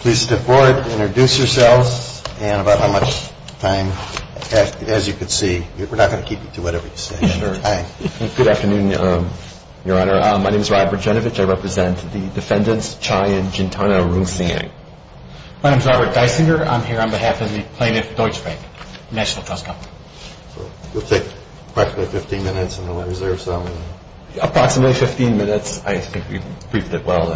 Please step forward, introduce yourselves and about how much time as you can see, we are not going to keep you to whatever you say. Good afternoon, Your Honor. My name is Robert Dysinger. I am here on behalf of the plaintiff Deutsche Bank National Trust Company. We'll take approximately 15 minutes and we'll reserve some. Approximately 15 minutes, I think we've briefed it well.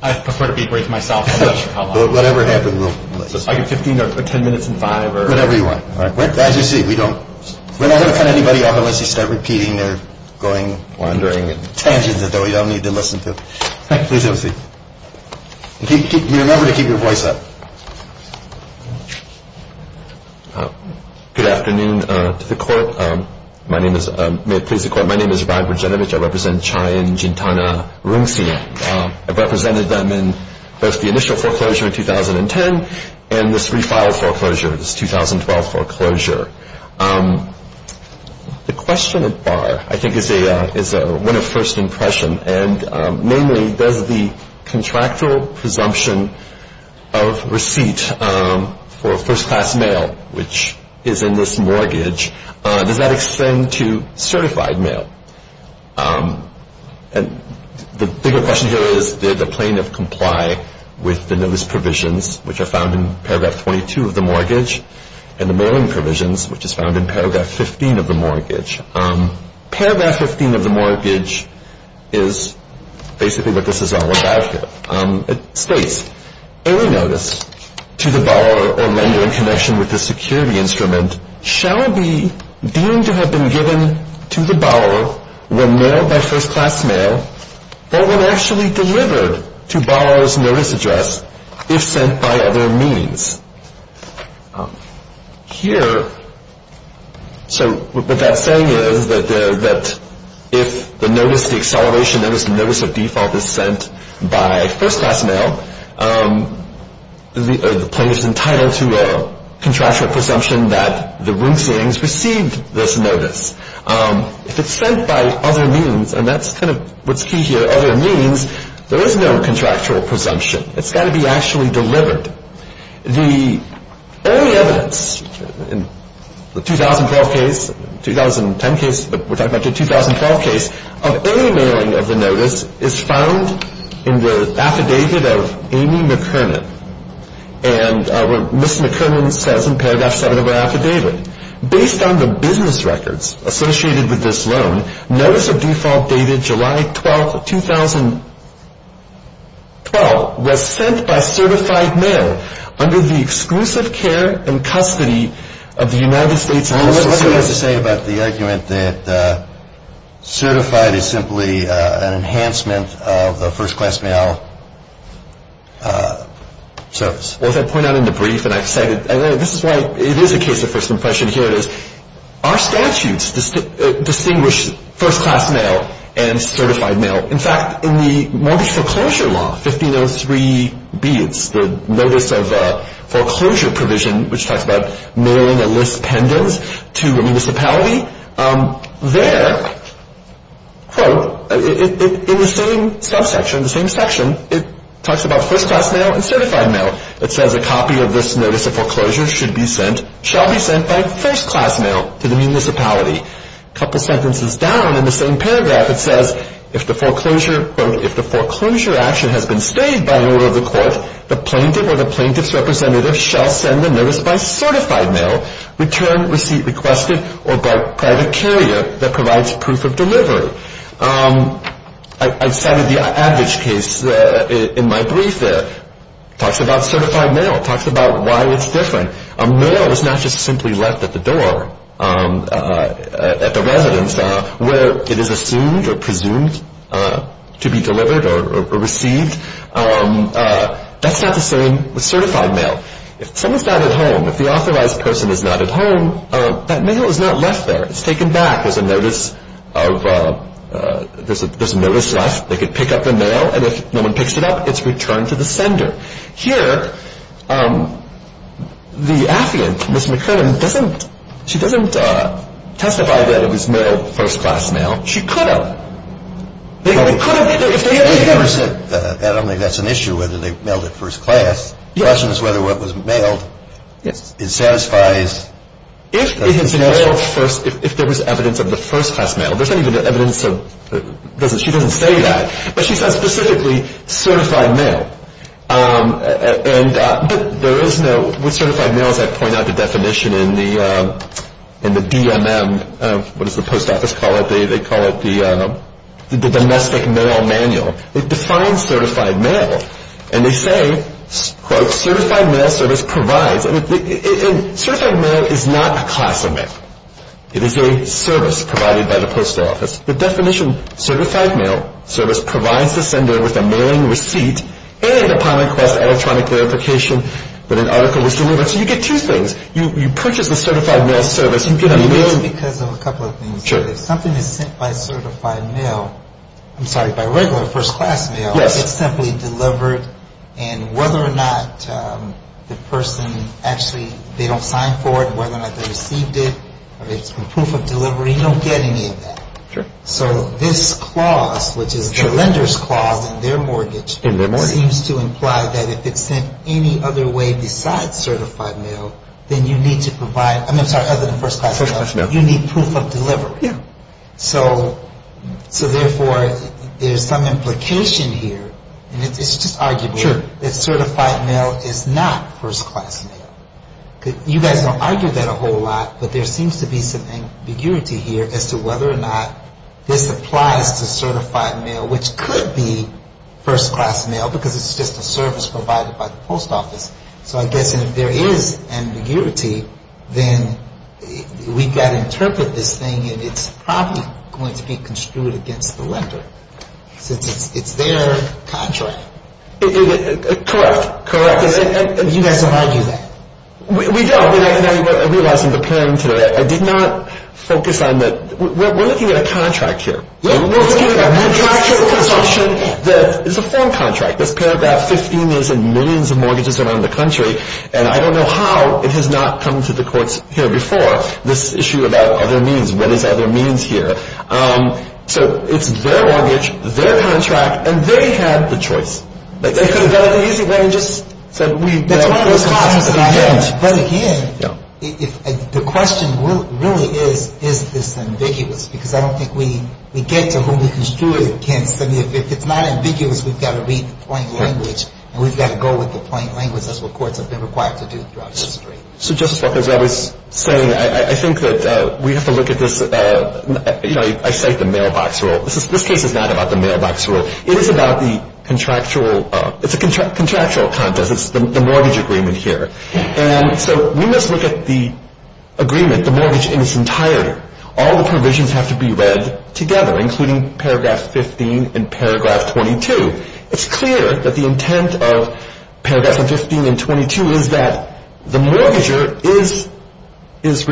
I prefer to be brief myself. Whatever happens, we'll release it. So if I get 15 or 10 minutes and five or... Whatever you want. As you see, we don't want to cut anybody off unless you start repeating their going wandering and tangents that we don't need to listen to. Please have a seat. You remember to keep your voice up. Good afternoon to the court. My name is... May it please the court. My name is Rod Rogenevich. I represent Chai and Jintana Roonseang. I've represented them in both the initial foreclosure in 2010 and this refiled foreclosure, this 2012 foreclosure. The question at bar, I think, is one of first impression. Namely, does the contractual presumption of receipt for first-class mail, which is in this mortgage, does that extend to certified mail? And the bigger question here is, did the plaintiff comply with the notice provisions, which are found in paragraph 22 of the mortgage, and the mailing provisions, which is found in paragraph 15 of the mortgage? Paragraph 15 of the mortgage is basically what this is all about here. It states, any notice to the borrower or lender in connection with the security instrument shall be deemed to have been given to the borrower when mailed by first-class mail or when actually delivered to borrower's notice address if sent by other means. Here, so what that's saying is that if the notice, the acceleration notice, the notice of default is sent by first-class mail, the plaintiff is entitled to a contractual presumption that the Roonseangs received this notice. If it's sent by other means, and that's kind of what's key here, other means, there is no contractual presumption. It's got to be actually delivered. The only evidence in the 2012 case, 2010 case, we're talking about the 2012 case, of any mailing of the notice is found in the affidavit of Amy McKernan. And what Ms. McKernan says in paragraph 7 of her affidavit, based on the business records associated with this loan, notice of default dated July 12, 2012, was sent by certified mail under the exclusive care and custody of the United States. Now, what do you have to say about the argument that certified is simply an enhancement of the first-class mail service? Well, as I point out in the brief, and I've said it, and this is why it is a case of first impression. Here it is. Our statutes distinguish first-class mail and certified mail. In fact, in the mortgage foreclosure law, 1503B, it's the notice of foreclosure provision, which talks about mailing a list pendens to a municipality. There, quote, in the same subsection, the same section, it talks about first-class mail and certified mail. It says, a copy of this notice of foreclosure should be sent, shall be sent by first-class mail to the municipality. A couple sentences down in the same paragraph, it says, if the foreclosure, quote, if the foreclosure action has been stayed by an order of the court, the plaintiff or the plaintiff's representative shall send the notice by certified mail, returned, receipt requested, or by private carrier that provides proof of delivery. I've cited the average case in my brief there. It talks about certified mail. It talks about why it's different. Mail is not just simply left at the door, at the residence, where it is assumed or presumed to be delivered or received. That's not the same with certified mail. If someone's not at home, if the authorized person is not at home, that mail is not left there. It's taken back. There's a notice of, there's a notice left. They could pick up the mail, and if no one picks it up, it's returned to the sender. Here, the affiant, Ms. McKernan, doesn't, she doesn't testify that it was mailed first-class mail. She could have. It could have. They never said that. I don't think that's an issue, whether they mailed it first-class. The question is whether what was mailed, it satisfies. If it had been mailed first, if there was evidence of the first-class mail, there's not even evidence of, she doesn't say that, but she says specifically certified mail. But there is no, with certified mail, as I point out the definition in the DMM, what does the post office call it? They call it the domestic mail manual. It defines certified mail, and they say, quote, certified mail service provides, and certified mail is not a class of mail. It is a service provided by the post office. The definition, certified mail service provides the sender with a mailing receipt and upon request electronic verification that an article was delivered. So you get two things. You purchase the certified mail service, you get a mailing. It's because of a couple of things. Sure. If something is sent by certified mail, I'm sorry, by regular first-class mail, it's simply delivered, and whether or not the person actually, they don't sign for it, whether or not they received it, or it's proof of delivery, you don't get any of that. Sure. So this clause, which is the lender's clause in their mortgage, seems to imply that if it's sent any other way besides certified mail, then you need to provide, I'm sorry, other than first-class mail, you need proof of delivery. Yeah. So therefore, there's some implication here, and it's just arguable. Sure. That certified mail is not first-class mail. You guys don't argue that a whole lot, but there seems to be some ambiguity here as to whether or not this applies to certified mail, which could be first-class mail because it's just a service provided by the post office. So I guess if there is ambiguity, then we've got to interpret this thing and it's probably going to be construed against the lender since it's their contract. Correct. Correct. You guys don't argue that. We don't, but I realize in preparing today, I did not focus on that. We're looking at a contract here. Yeah. We're looking at a contract here for consumption that is a firm contract that's paragraph 15 is in millions of mortgages around the country, and I don't know how it has not come to the courts here before, this issue about other means. What is other means here? So it's their mortgage, their contract, and they had the choice. They could have done it the easy way and just said, That's one of the costs that I have. But again, the question really is, is this ambiguous? Because I don't think we get to whom we construe it against. I mean, if it's not ambiguous, we've got to read the plain language and we've got to go with the plain language. That's what courts have been required to do throughout history. So, Justice Walker, as I was saying, I think that we have to look at this, you know, I cite the mailbox rule. This case is not about the mailbox rule. It is about the contractual, it's a contractual contest. It's the mortgage agreement here. And so we must look at the agreement, the mortgage in its entirety. All the provisions have to be read together, including Paragraph 15 and Paragraph 22. It's clear that the intent of Paragraphs 15 and 22 is that the mortgager is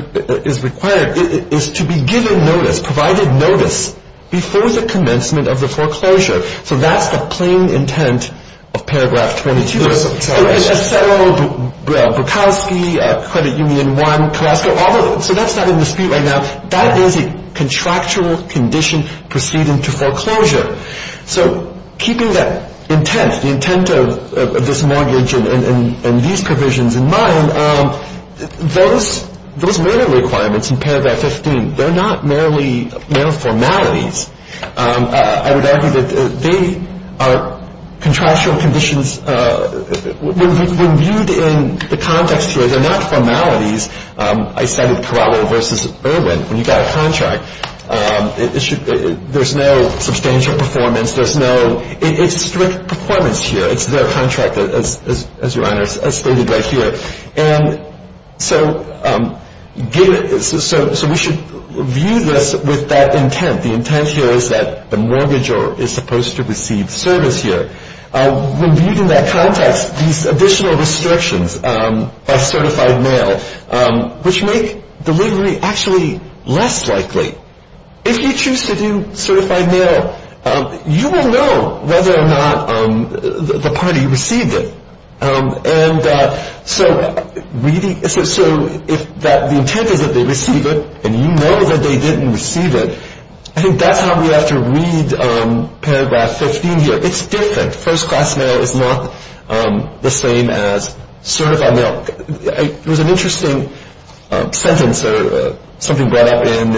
required, is to be given notice, provided notice, before the commencement of the foreclosure. So that's the plain intent of Paragraph 22. It's Acero, Bukowski, Credit Union 1, Colasco. So that's not in dispute right now. That is a contractual condition proceeding to foreclosure. So keeping that intent, the intent of this mortgage and these provisions in mind, those manner requirements in Paragraph 15, they're not merely formalities. I would argue that they are contractual conditions when viewed in the context here. They're not formalities. I said it, Corralo v. Irwin. When you've got a contract, there's no substantial performance. There's no strict performance here. It's their contract, as Your Honor, as stated right here. And so we should view this with that intent. The intent here is that the mortgager is supposed to receive service here. When viewed in that context, these additional restrictions by certified mail, which make delivery actually less likely, if you choose to do certified mail, you will know whether or not the party received it. And so if the intent is that they receive it and you know that they didn't receive it, I think that's how we have to read Paragraph 15 here. It's different. First-class mail is not the same as certified mail. There was an interesting sentence or something brought up in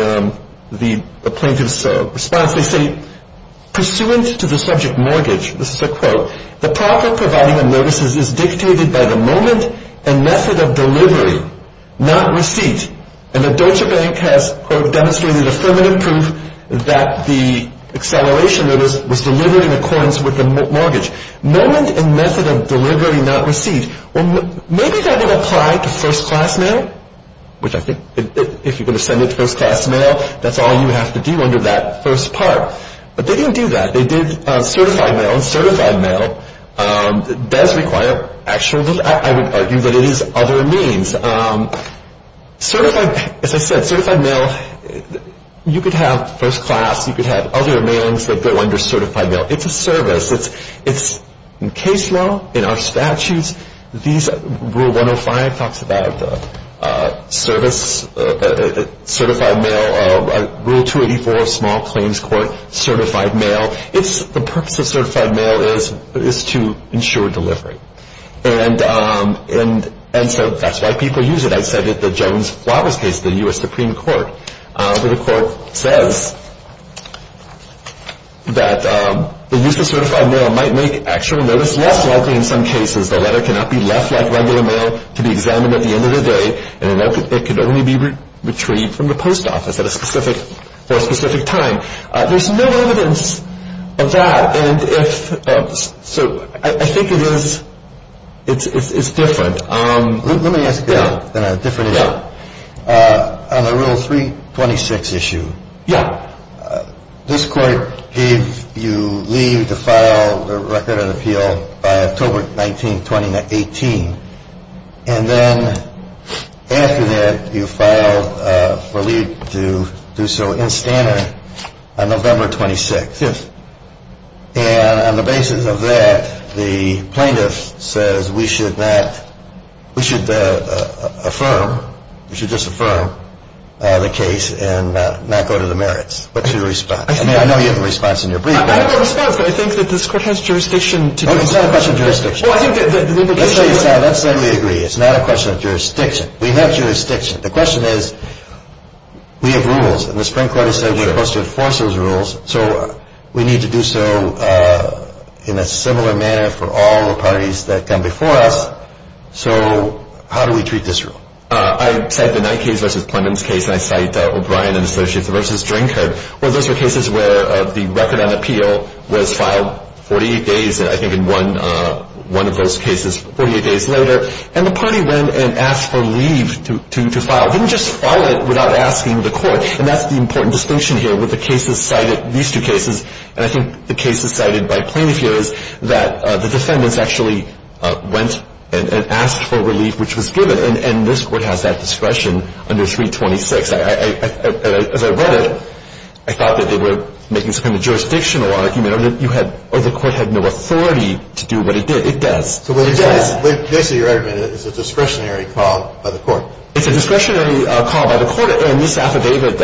the plaintiff's response. They say, pursuant to the subject mortgage, this is a quote, the proper providing of notices is dictated by the moment and method of delivery, not receipt. And the Deutsche Bank has, quote, demonstrated affirmative proof that the acceleration notice was delivered in accordance with the mortgage. Moment and method of delivery, not receipt. Maybe that would apply to first-class mail, which I think if you're going to send it to first-class mail, that's all you have to do under that first part. But they didn't do that. They did certified mail, and certified mail does require, actually, I would argue that it is other means. As I said, certified mail, you could have first-class, you could have other mailings that go under certified mail. It's a service. It's in case law, in our statutes. Rule 105 talks about certified mail. Rule 284 of Small Claims Court, certified mail. The purpose of certified mail is to ensure delivery. And so that's why people use it. I said that the Jones-Flowers case, the U.S. Supreme Court, where the court says that the use of certified mail might make actual notice less likely in some cases. The letter cannot be left like regular mail to be examined at the end of the day, and it can only be retrieved from the post office at a specific time. There's no evidence of that. So I think it is different. Let me ask you a different issue. On the Rule 326 issue, this court gave you leave to file a record of appeal by October 19, 2018. And then after that, you filed for leave to do so in Stannard on November 26th. And on the basis of that, the plaintiff says, we should affirm, we should disaffirm the case and not go to the merits. What's your response? I mean, I know you have a response in your brief. I have a response, but I think that this court has jurisdiction to do so. It's not a question of jurisdiction. Let's say we agree. It's not a question of jurisdiction. We have jurisdiction. The question is, we have rules, and the Supreme Court has said we're supposed to enforce those rules. So we need to do so in a similar manner for all the parties that come before us. So how do we treat this rule? I cite the Knight case versus Plundon's case, and I cite O'Brien and Associates versus Drinkard. Well, those were cases where the record on appeal was filed 48 days, I think in one of those cases, 48 days later. And the party went and asked for leave to file. They didn't just file it without asking the court. And that's the important distinction here with the cases cited, these two cases, and I think the cases cited by Plainview is that the defendants actually went and asked for relief, which was given. And this Court has that discretion under 326. As I read it, I thought that they were making some kind of jurisdictional argument, or the Court had no authority to do what it did. It does. So basically your argument is it's a discretionary call by the Court. It's a discretionary call by the Court. And this affidavit,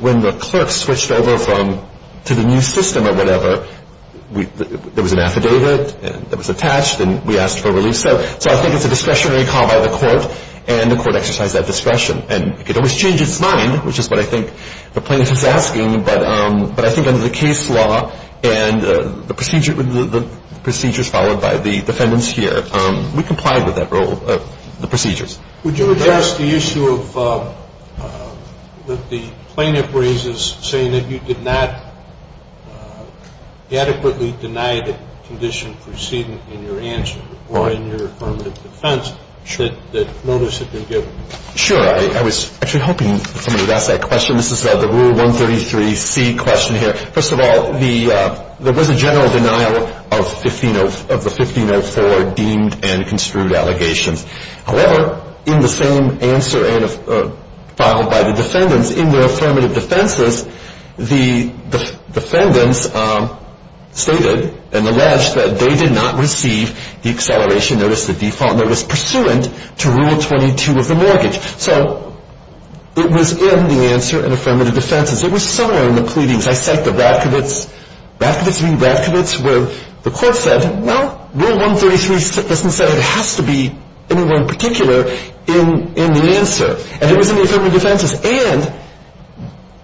when the clerk switched over to the new system or whatever, there was an affidavit that was attached, and we asked for relief. So I think it's a discretionary call by the Court, and the Court exercised that discretion. And it always changes its mind, which is what I think the plaintiff is asking, but I think under the case law and the procedures followed by the defendants here, we complied with that rule, the procedures. Would you address the issue of the plaintiff raises saying that you did not adequately deny the condition preceding in your answer or in your affirmative defense that notice had been given? Sure. I was actually hoping somebody would ask that question. This is the Rule 133C question here. First of all, there was a general denial of the 1504 deemed and construed allegations. However, in the same answer filed by the defendants in their affirmative defenses, the defendants stated and alleged that they did not receive the acceleration notice, the default notice, pursuant to Rule 22 of the mortgage. So it was in the answer in affirmative defenses. It was somewhere in the pleadings. I cite the Ravkovitz. Ravkovitz being Ravkovitz where the Court said, well, Rule 133 doesn't say it has to be anywhere in particular in the answer. And it was in the affirmative defenses. And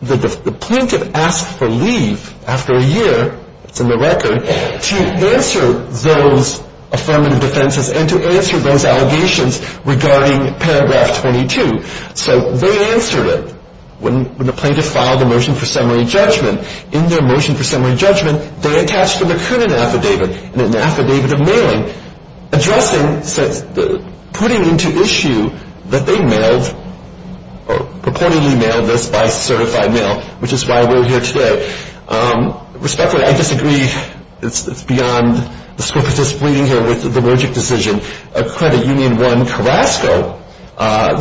the plaintiff asked for leave after a year, it's in the record, to answer those affirmative defenses and to answer those allegations regarding Paragraph 22. So they answered it when the plaintiff filed the Motion for Summary Judgment. In their Motion for Summary Judgment, they attached the McKernan Affidavit and an Affidavit of Mailing, addressing, putting into issue that they mailed or purportedly mailed this by certified mail, which is why we're here today. Respectfully, I disagree. It's beyond the scope of this meeting here with the Mergic decision.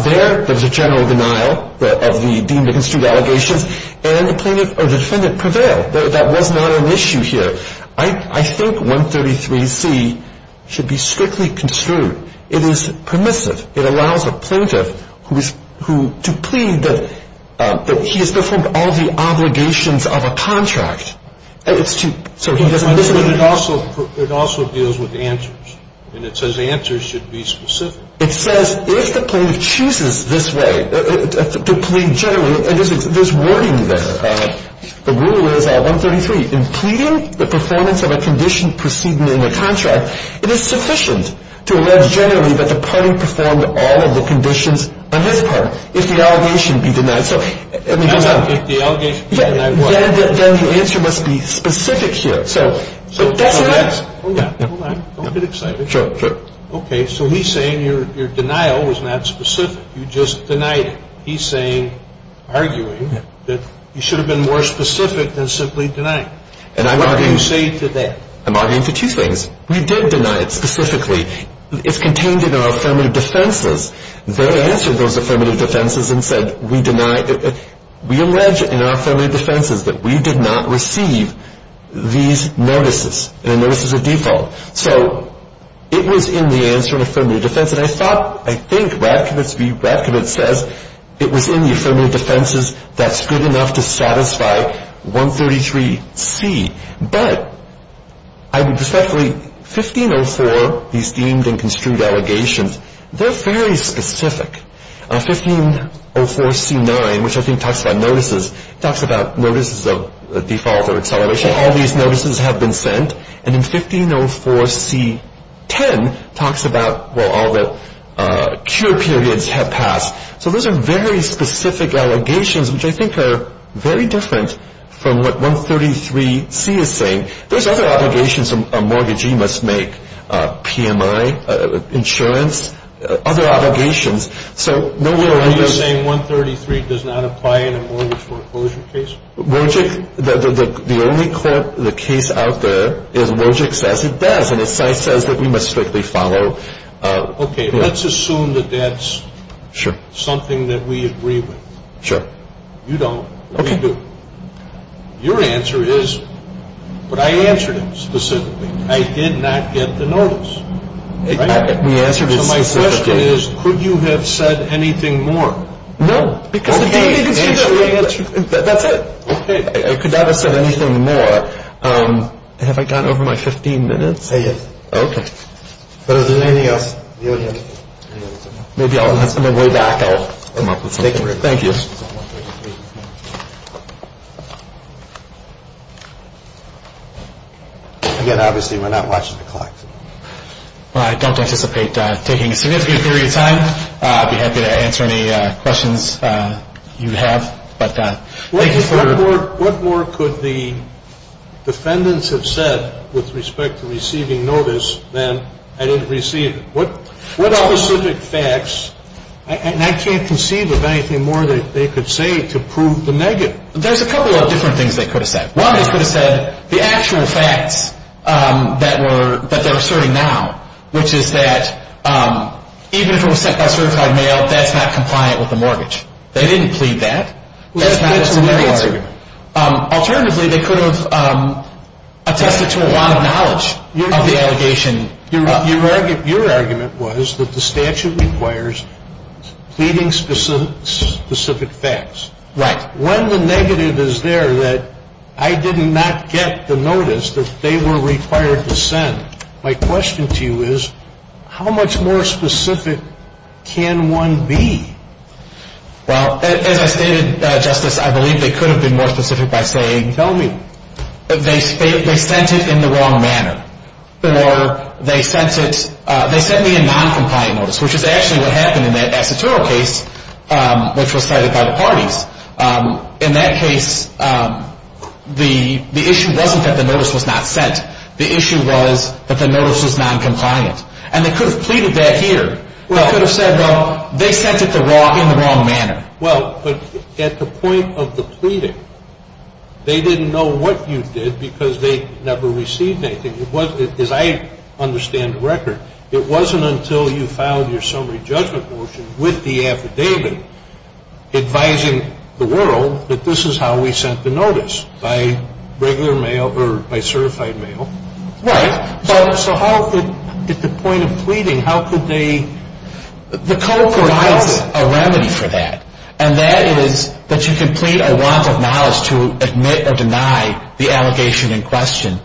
There is a general denial of the deemed and construed allegations, and the plaintiff or the defendant prevailed. That was not an issue here. I think 133C should be strictly construed. It is permissive. It allows the plaintiff to plead that he has performed all the obligations of a contract. And it's to, so he doesn't listen. But it also, it also deals with answers. And it says answers should be specific. It says if the plaintiff chooses this way, to plead generally, and there's wording there. The rule is 133, in pleading the performance of a condition proceeding in the contract, it is sufficient to allege generally that the party performed all of the conditions on his part, if the allegation be denied. So let me go on. If the allegation be denied, what? Then the answer must be specific here. So that's an answer. Hold on, hold on. Don't get excited. Sure, sure. Okay, so he's saying your denial was not specific. You just denied it. He's saying, arguing, that you should have been more specific than simply denying. And I'm arguing. What do you say to that? I'm arguing for two things. We did deny it specifically. It's contained in our affirmative defenses. They answered those affirmative defenses and said we deny, we allege in our affirmative defenses that we did not receive these notices, the notices of default. So it was in the answer in affirmative defense. And I thought, I think Ravkind says it was in the affirmative defenses that's good enough to satisfy 133C. But I would respectfully, 1504, these deemed and construed allegations, they're very specific. 1504C9, which I think talks about notices, talks about notices of default or acceleration. All these notices have been sent. And then 1504C10 talks about, well, all the cure periods have passed. So those are very specific allegations, which I think are very different from what 133C is saying. There's other obligations a mortgagee must make, PMI, insurance, other obligations. So no where are those. Are you saying 133 does not apply in a mortgage foreclosure case? The only case out there is Wojcik says it does. And the site says that we must strictly follow. Okay. Let's assume that that's something that we agree with. Sure. You don't. We do. Your answer is, but I answered it specifically. I did not get the notice. The answer to my question is, could you have said anything more? No. That's it. Okay. I could not have said anything more. Have I gone over my 15 minutes? Yes. Okay. But if there's anything else, you would have. Maybe on my way back I'll come up with something. Thank you. Again, obviously we're not watching the clock. I don't anticipate taking a significant period of time. I'd be happy to answer any questions you have. What more could the defendants have said with respect to receiving notice than I didn't receive? What specific facts? And I can't conceive of anything more that they could say to prove the negative. There's a couple of different things they could have said. One, they could have said the actual facts that they're asserting now, which is that even if it was sent by certified mail, that's not compliant with the mortgage. They didn't plead that. That's not a scenario argument. Alternatively, they could have attested to a lot of knowledge of the allegation. Your argument was that the statute requires pleading specific facts. Right. When the negative is there that I did not get the notice that they were required to send, my question to you is how much more specific can one be? Well, as I stated, Justice, I believe they could have been more specific by saying they sent it in the wrong manner or they sent me a noncompliant notice, which is actually what happened in that Acetero case, which was cited by the parties. In that case, the issue wasn't that the notice was not sent. The issue was that the notice was noncompliant. And they could have pleaded that here. They could have said, well, they sent it in the wrong manner. Well, but at the point of the pleading, they didn't know what you did because they never received anything. As I understand the record, it wasn't until you filed your summary judgment motion with the affidavit advising the world that this is how we sent the notice, by regular mail or by certified mail. Right. So at the point of pleading, how could they? The code provides a remedy for that. And that is that you complete a want of knowledge to admit or deny the allegation in question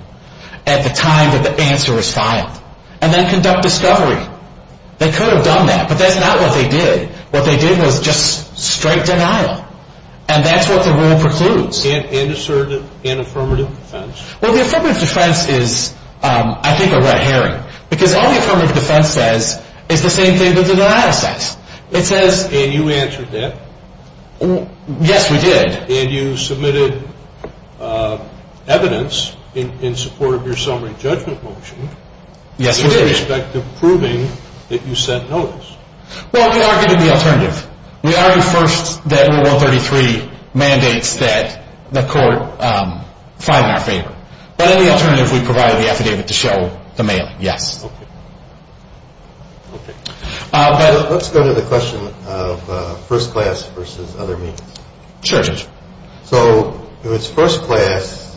at the time that the answer is filed. And then conduct discovery. They could have done that, but that's not what they did. What they did was just straight denial. And that's what the rule precludes. And assertive and affirmative defense. Well, the affirmative defense is, I think, a red herring because all the affirmative defense says is the same thing the denial says. And you answered that? Yes, we did. And you submitted evidence in support of your summary judgment motion. Yes, we did. With respect to proving that you sent notice. Well, we argued the alternative. We argued first that Rule 133 mandates that the court file in our favor. But in the alternative, we provided the affidavit to show the mailing, yes. Okay. Let's go to the question of first class versus other means. Sure, Judge. So if it's first class,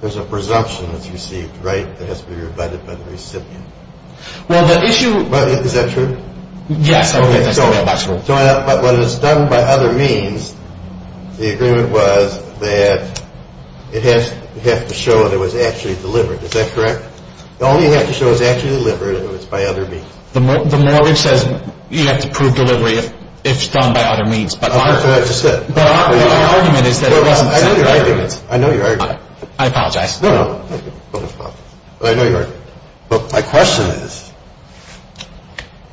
there's a presumption that's received, right, that has to be rebutted by the recipient. Well, the issue. Is that true? Yes. Okay. But when it's done by other means, the agreement was that it has to show that it was actually delivered. Is that correct? All you have to show is it's actually delivered if it's by other means. The mortgage says you have to prove delivery if it's done by other means. That's what I just said. But our argument is that it wasn't sent by other means. I know your argument. I apologize. No, no. I know your argument. But my question is,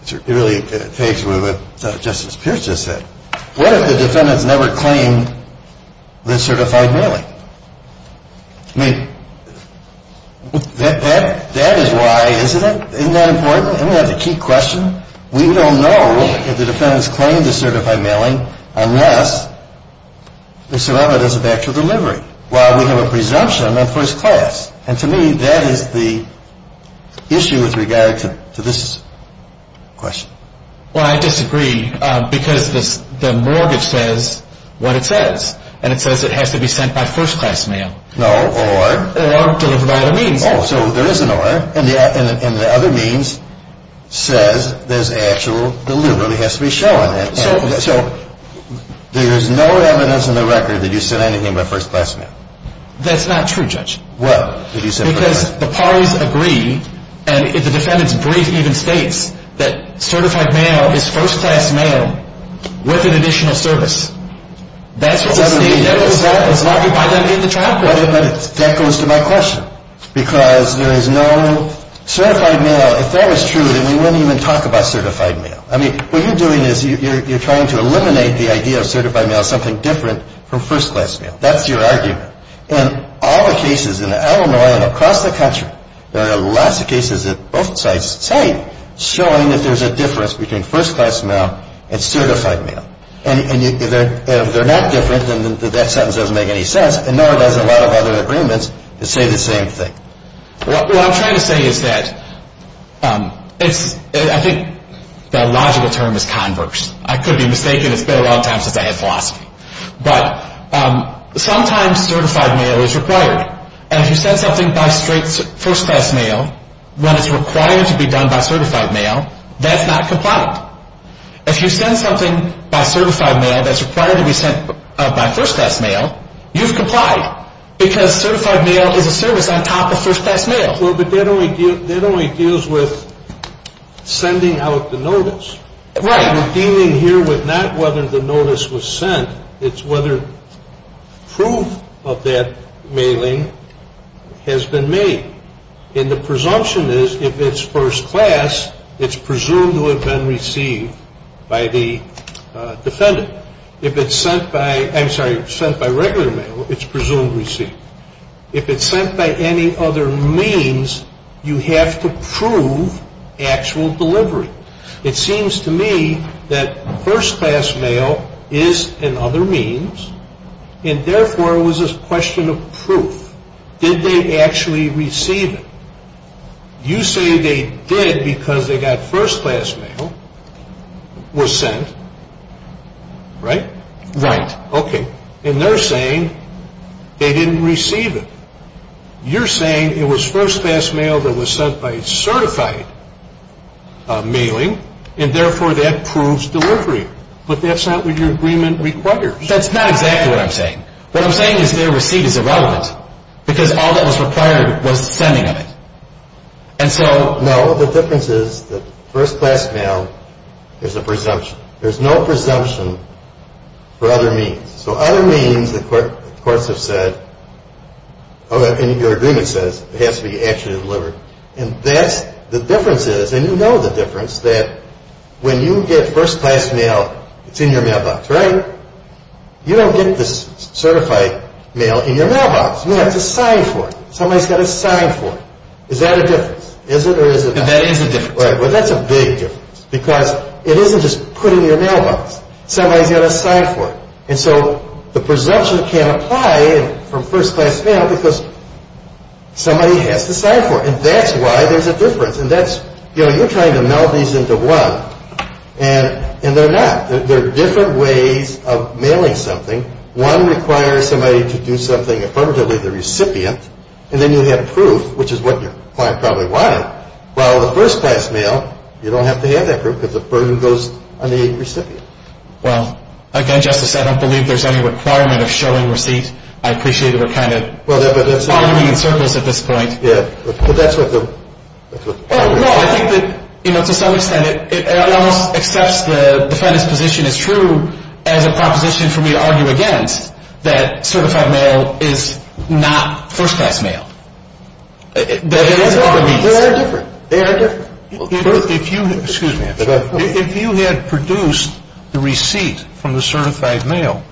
it really takes away what Justice Pierce just said. What if the defendants never claimed the certified mailing? I mean, that is why, isn't it? Isn't that important? Isn't that the key question? We don't know if the defendants claimed the certified mailing unless there's some evidence of actual delivery. Well, we have a presumption on first class. And to me, that is the issue with regard to this question. Well, I disagree because the mortgage says what it says. And it says it has to be sent by first class mail. No, or? Or delivered by other means. Oh, so there is an or. And the other means says there's actual delivery. It has to be shown. So there's no evidence in the record that you sent anything by first class mail. That's not true, Judge. What? Because the parties agree, and the defendants' brief even states, that certified mail is first class mail with an additional service. That's what the State Department said. It's not defined under the trial code. But that goes to my question. Because there is no certified mail. If that was true, then we wouldn't even talk about certified mail. I mean, what you're doing is you're trying to eliminate the idea of certified mail as something different from first class mail. That's your argument. In all the cases in Illinois and across the country, there are lots of cases that both sides say showing that there's a difference between first class mail and certified mail. And if they're not different, then that sentence doesn't make any sense. And nor does a lot of other agreements that say the same thing. What I'm trying to say is that I think the logical term is converse. I could be mistaken. It's been a long time since I had philosophy. But sometimes certified mail is required. And if you send something by first class mail, when it's required to be done by certified mail, that's not compliant. If you send something by certified mail that's required to be sent by first class mail, you've complied. Because certified mail is a service on top of first class mail. Well, but that only deals with sending out the notice. Right. We're dealing here with not whether the notice was sent. It's whether proof of that mailing has been made. And the presumption is if it's first class, it's presumed to have been received by the defendant. If it's sent by regular mail, it's presumed received. If it's sent by any other means, you have to prove actual delivery. It seems to me that first class mail is an other means. And therefore, it was a question of proof. Did they actually receive it? You say they did because they got first class mail was sent. Right? Right. Okay. And they're saying they didn't receive it. You're saying it was first class mail that was sent by certified mailing, and therefore that proves delivery. But that's not what your agreement requires. That's not exactly what I'm saying. What I'm saying is their receipt is irrelevant because all that was required was the sending of it. And so... No. The difference is that first class mail is a presumption. There's no presumption for other means. So other means, the courts have said, and your agreement says it has to be actually delivered. And that's the difference is, and you know the difference, that when you get first class mail, it's in your mailbox. Right? You don't get the certified mail in your mailbox. You have to sign for it. Somebody's got to sign for it. Is that a difference? Is it or is it not? That is a difference. Right. Well, that's a big difference because it isn't just put in your mailbox. Somebody's got to sign for it. And so the presumption can't apply from first class mail because somebody has to sign for it. And that's why there's a difference. And that's, you know, you're trying to meld these into one. And they're not. There are different ways of mailing something. One requires somebody to do something affirmatively the recipient. And then you have proof, which is what your client probably wanted. While with first class mail, you don't have to have that proof because the burden goes on the recipient. Well, again, Justice, I don't believe there's any requirement of showing receipt. I appreciate it. We're kind of following in circles at this point. Yeah, but that's what the… No, I think that, you know, to some extent it almost accepts the defendant's position as true as a proposition for me to argue against that certified mail is not first class mail. They are different. They are different. If you had produced the receipt from the certified mail,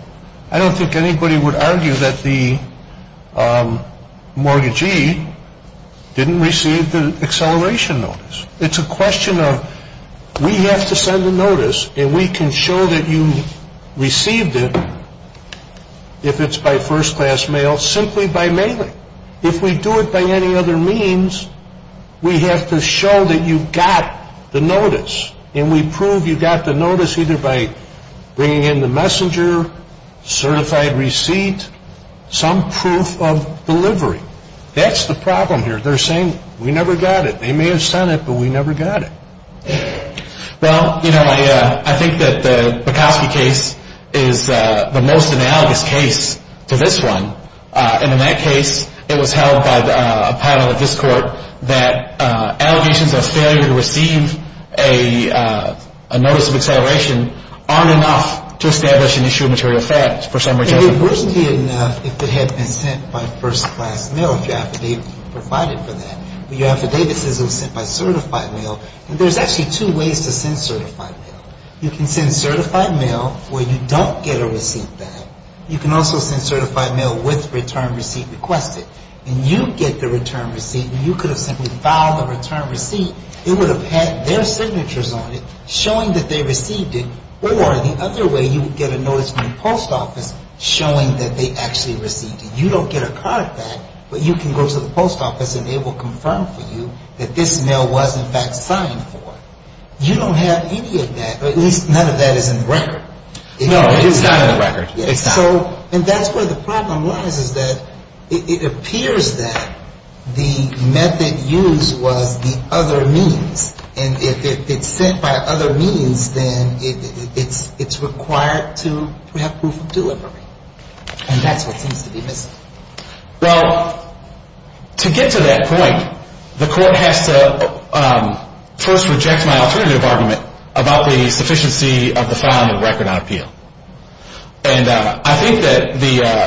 I don't think anybody would argue that the mortgagee didn't receive the acceleration notice. It's a question of we have to send a notice and we can show that you received it if it's by first class mail simply by mailing. If we do it by any other means, we have to show that you got the notice. And we prove you got the notice either by bringing in the messenger, certified receipt, some proof of delivery. That's the problem here. They're saying we never got it. They may have sent it, but we never got it. Well, you know, I think that the Bukowski case is the most analogous case to this one. And in that case, it was held by a panel at this court that allegations of failure to receive a notice of acceleration aren't enough to establish an issue of material facts for some reason. It wouldn't be enough if it had been sent by first class mail if your affidavit provided for that. But your affidavit says it was sent by certified mail. And there's actually two ways to send certified mail. You can send certified mail where you don't get a receipt back. You can also send certified mail with return receipt requested. And you get the return receipt, and you could have simply filed the return receipt. It would have had their signatures on it showing that they received it. Or the other way, you would get a notice from the post office showing that they actually received it. You don't get a card back, but you can go to the post office, and they will confirm for you that this mail was, in fact, signed for. You don't have any of that, or at least none of that is in the record. No, it's not in the record. It's not. And that's where the problem lies is that it appears that the method used was the other means. And if it's sent by other means, then it's required to have proof of delivery. And that's what seems to be missing. Well, to get to that point, the court has to first reject my alternative argument about the sufficiency of the filing of record on appeal. And I think that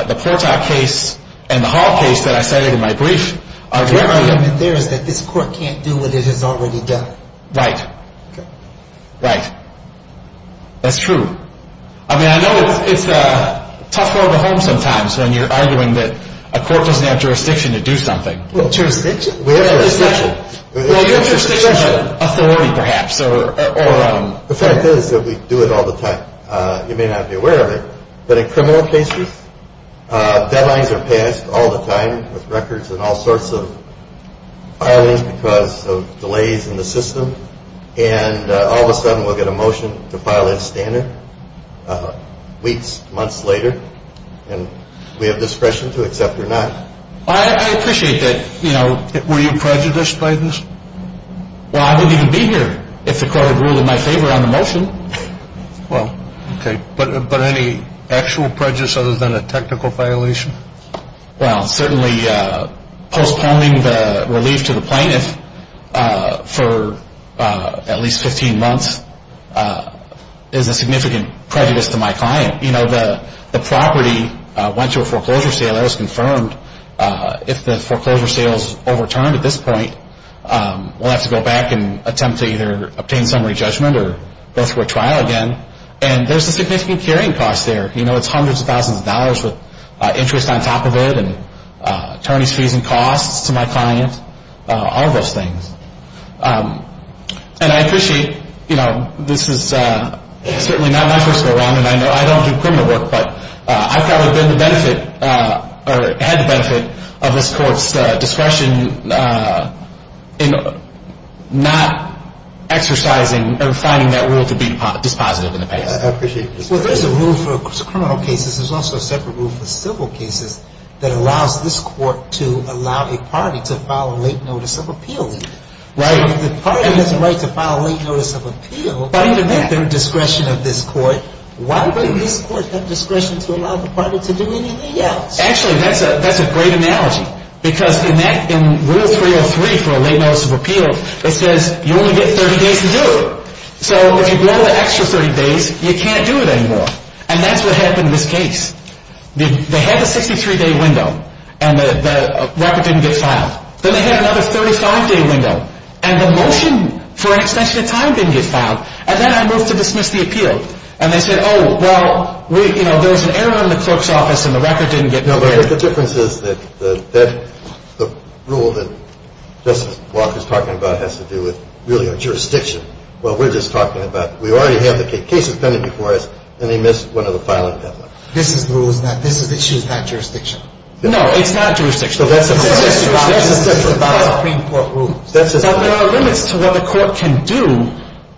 the Portak case and the Hall case that I cited in my brief are direct arguments. The argument there is that this court can't do what it has already done. Right. Okay. Right. That's true. I mean, I know it's a tough road to home sometimes when you're arguing that a court doesn't have jurisdiction to do something. Well, jurisdiction? We have jurisdiction. Well, you have jurisdiction to authority, perhaps. The fact is that we do it all the time. You may not be aware of it, but in criminal cases, deadlines are passed all the time with records and all sorts of filing because of delays in the system. And all of a sudden, we'll get a motion to file a standard weeks, months later. And we have discretion to accept or not. I appreciate that. Were you prejudiced by this? Well, I wouldn't even be here if the court had ruled in my favor on the motion. Well, okay. But any actual prejudice other than a technical violation? Well, certainly postponing the relief to the plaintiff for at least 15 months is a significant prejudice to my client. You know, the property went to a foreclosure sale. That was confirmed. If the foreclosure sale is overturned at this point, we'll have to go back and attempt to either obtain summary judgment or go through a trial again. And there's a significant carrying cost there. You know, it's hundreds of thousands of dollars with interest on top of it and attorney's fees and costs to my client, all of those things. And I appreciate, you know, this is certainly not my first go-around, and I know I don't do criminal work, but I've probably been the benefit or had the benefit of this court's discretion in not exercising or finding that rule to be dispositive in the past. Well, there's a rule for criminal cases. There's also a separate rule for civil cases that allows this court to allow a party to file a late notice of appeal. Right. So if the party has a right to file a late notice of appeal, but even at their discretion of this court, why wouldn't this court have discretion to allow the party to do anything else? Actually, that's a great analogy. Because in Rule 303 for a late notice of appeal, it says you only get 30 days to do it. So if you go the extra 30 days, you can't do it anymore. And that's what happened in this case. They had a 63-day window, and the record didn't get filed. Then they had another 35-day window, and the motion for an extension of time didn't get filed. And then I moved to dismiss the appeal. And they said, oh, well, you know, there was an error in the clerk's office, and the record didn't get prepared. The difference is that the rule that Justice Walker is talking about has to do with, really, a jurisdiction. Well, we're just talking about we already have the case appended before us, and they missed one of the filing deadlines. This rule is not – this issue is not jurisdiction. No, it's not jurisdiction. So that's a separate – that's a separate Supreme Court rule. That's a separate – But there are limits to what the court can do,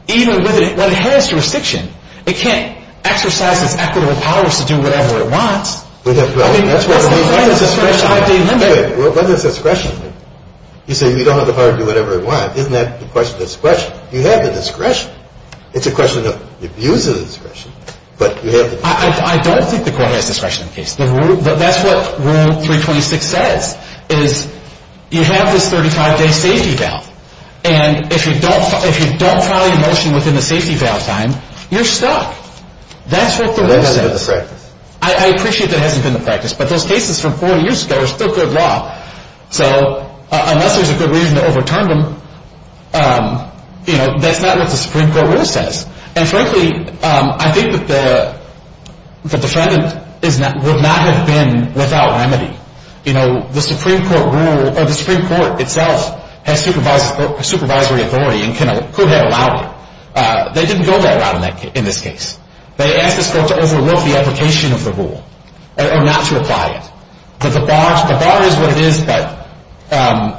even when it has jurisdiction. It can't exercise its equitable powers to do whatever it wants. Well, that's what the rule says. I mean, that's the kind of discretion I deliver. Wait a minute. What does discretion mean? You say you don't have the power to do whatever you want. Isn't that the question of discretion? You have the discretion. It's a question of the abuse of the discretion, but you have the discretion. I don't think the court has discretion in the case. That's what Rule 326 says, is you have this 35-day safety bail. And if you don't file your motion within the safety bail time, you're stuck. That's what the rule says. That doesn't do the practice. I appreciate that it hasn't been the practice, but those cases from 40 years ago are still good law. So unless there's a good reason to overturn them, you know, that's not what the Supreme Court rule says. And frankly, I think that the defendant would not have been without remedy. You know, the Supreme Court rule – or the Supreme Court itself has supervisory authority and could have allowed it. They didn't go that route in this case. They asked the court to overlook the application of the rule or not to apply it. The bar is what it is, but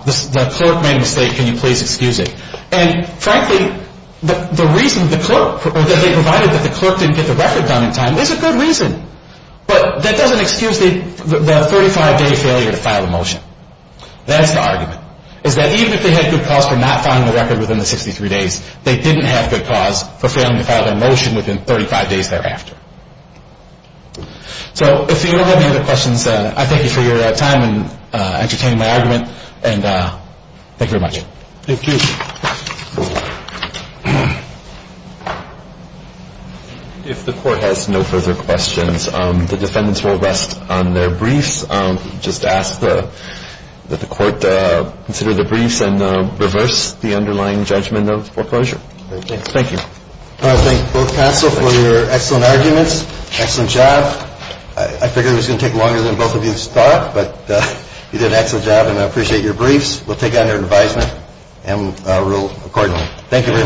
the clerk made a mistake. Can you please excuse it? And frankly, the reason the clerk – provided that the clerk didn't get the record done in time is a good reason. But that doesn't excuse the 35-day failure to file a motion. That's the argument, is that even if they had good cause for not filing the record within the 63 days, they didn't have good cause for failing to file their motion within 35 days thereafter. So if you don't have any other questions, I thank you for your time and entertaining my argument. And thank you very much. Thank you. If the court has no further questions, the defendants will rest on their briefs. Just ask that the court consider the briefs and reverse the underlying judgment of foreclosure. Thank you. I want to thank both counsel for your excellent arguments. Excellent job. I figured it was going to take longer than both of you thought, but you did an excellent job and I appreciate your briefs. We'll take it under advisement and rule accordingly. Thank you very much.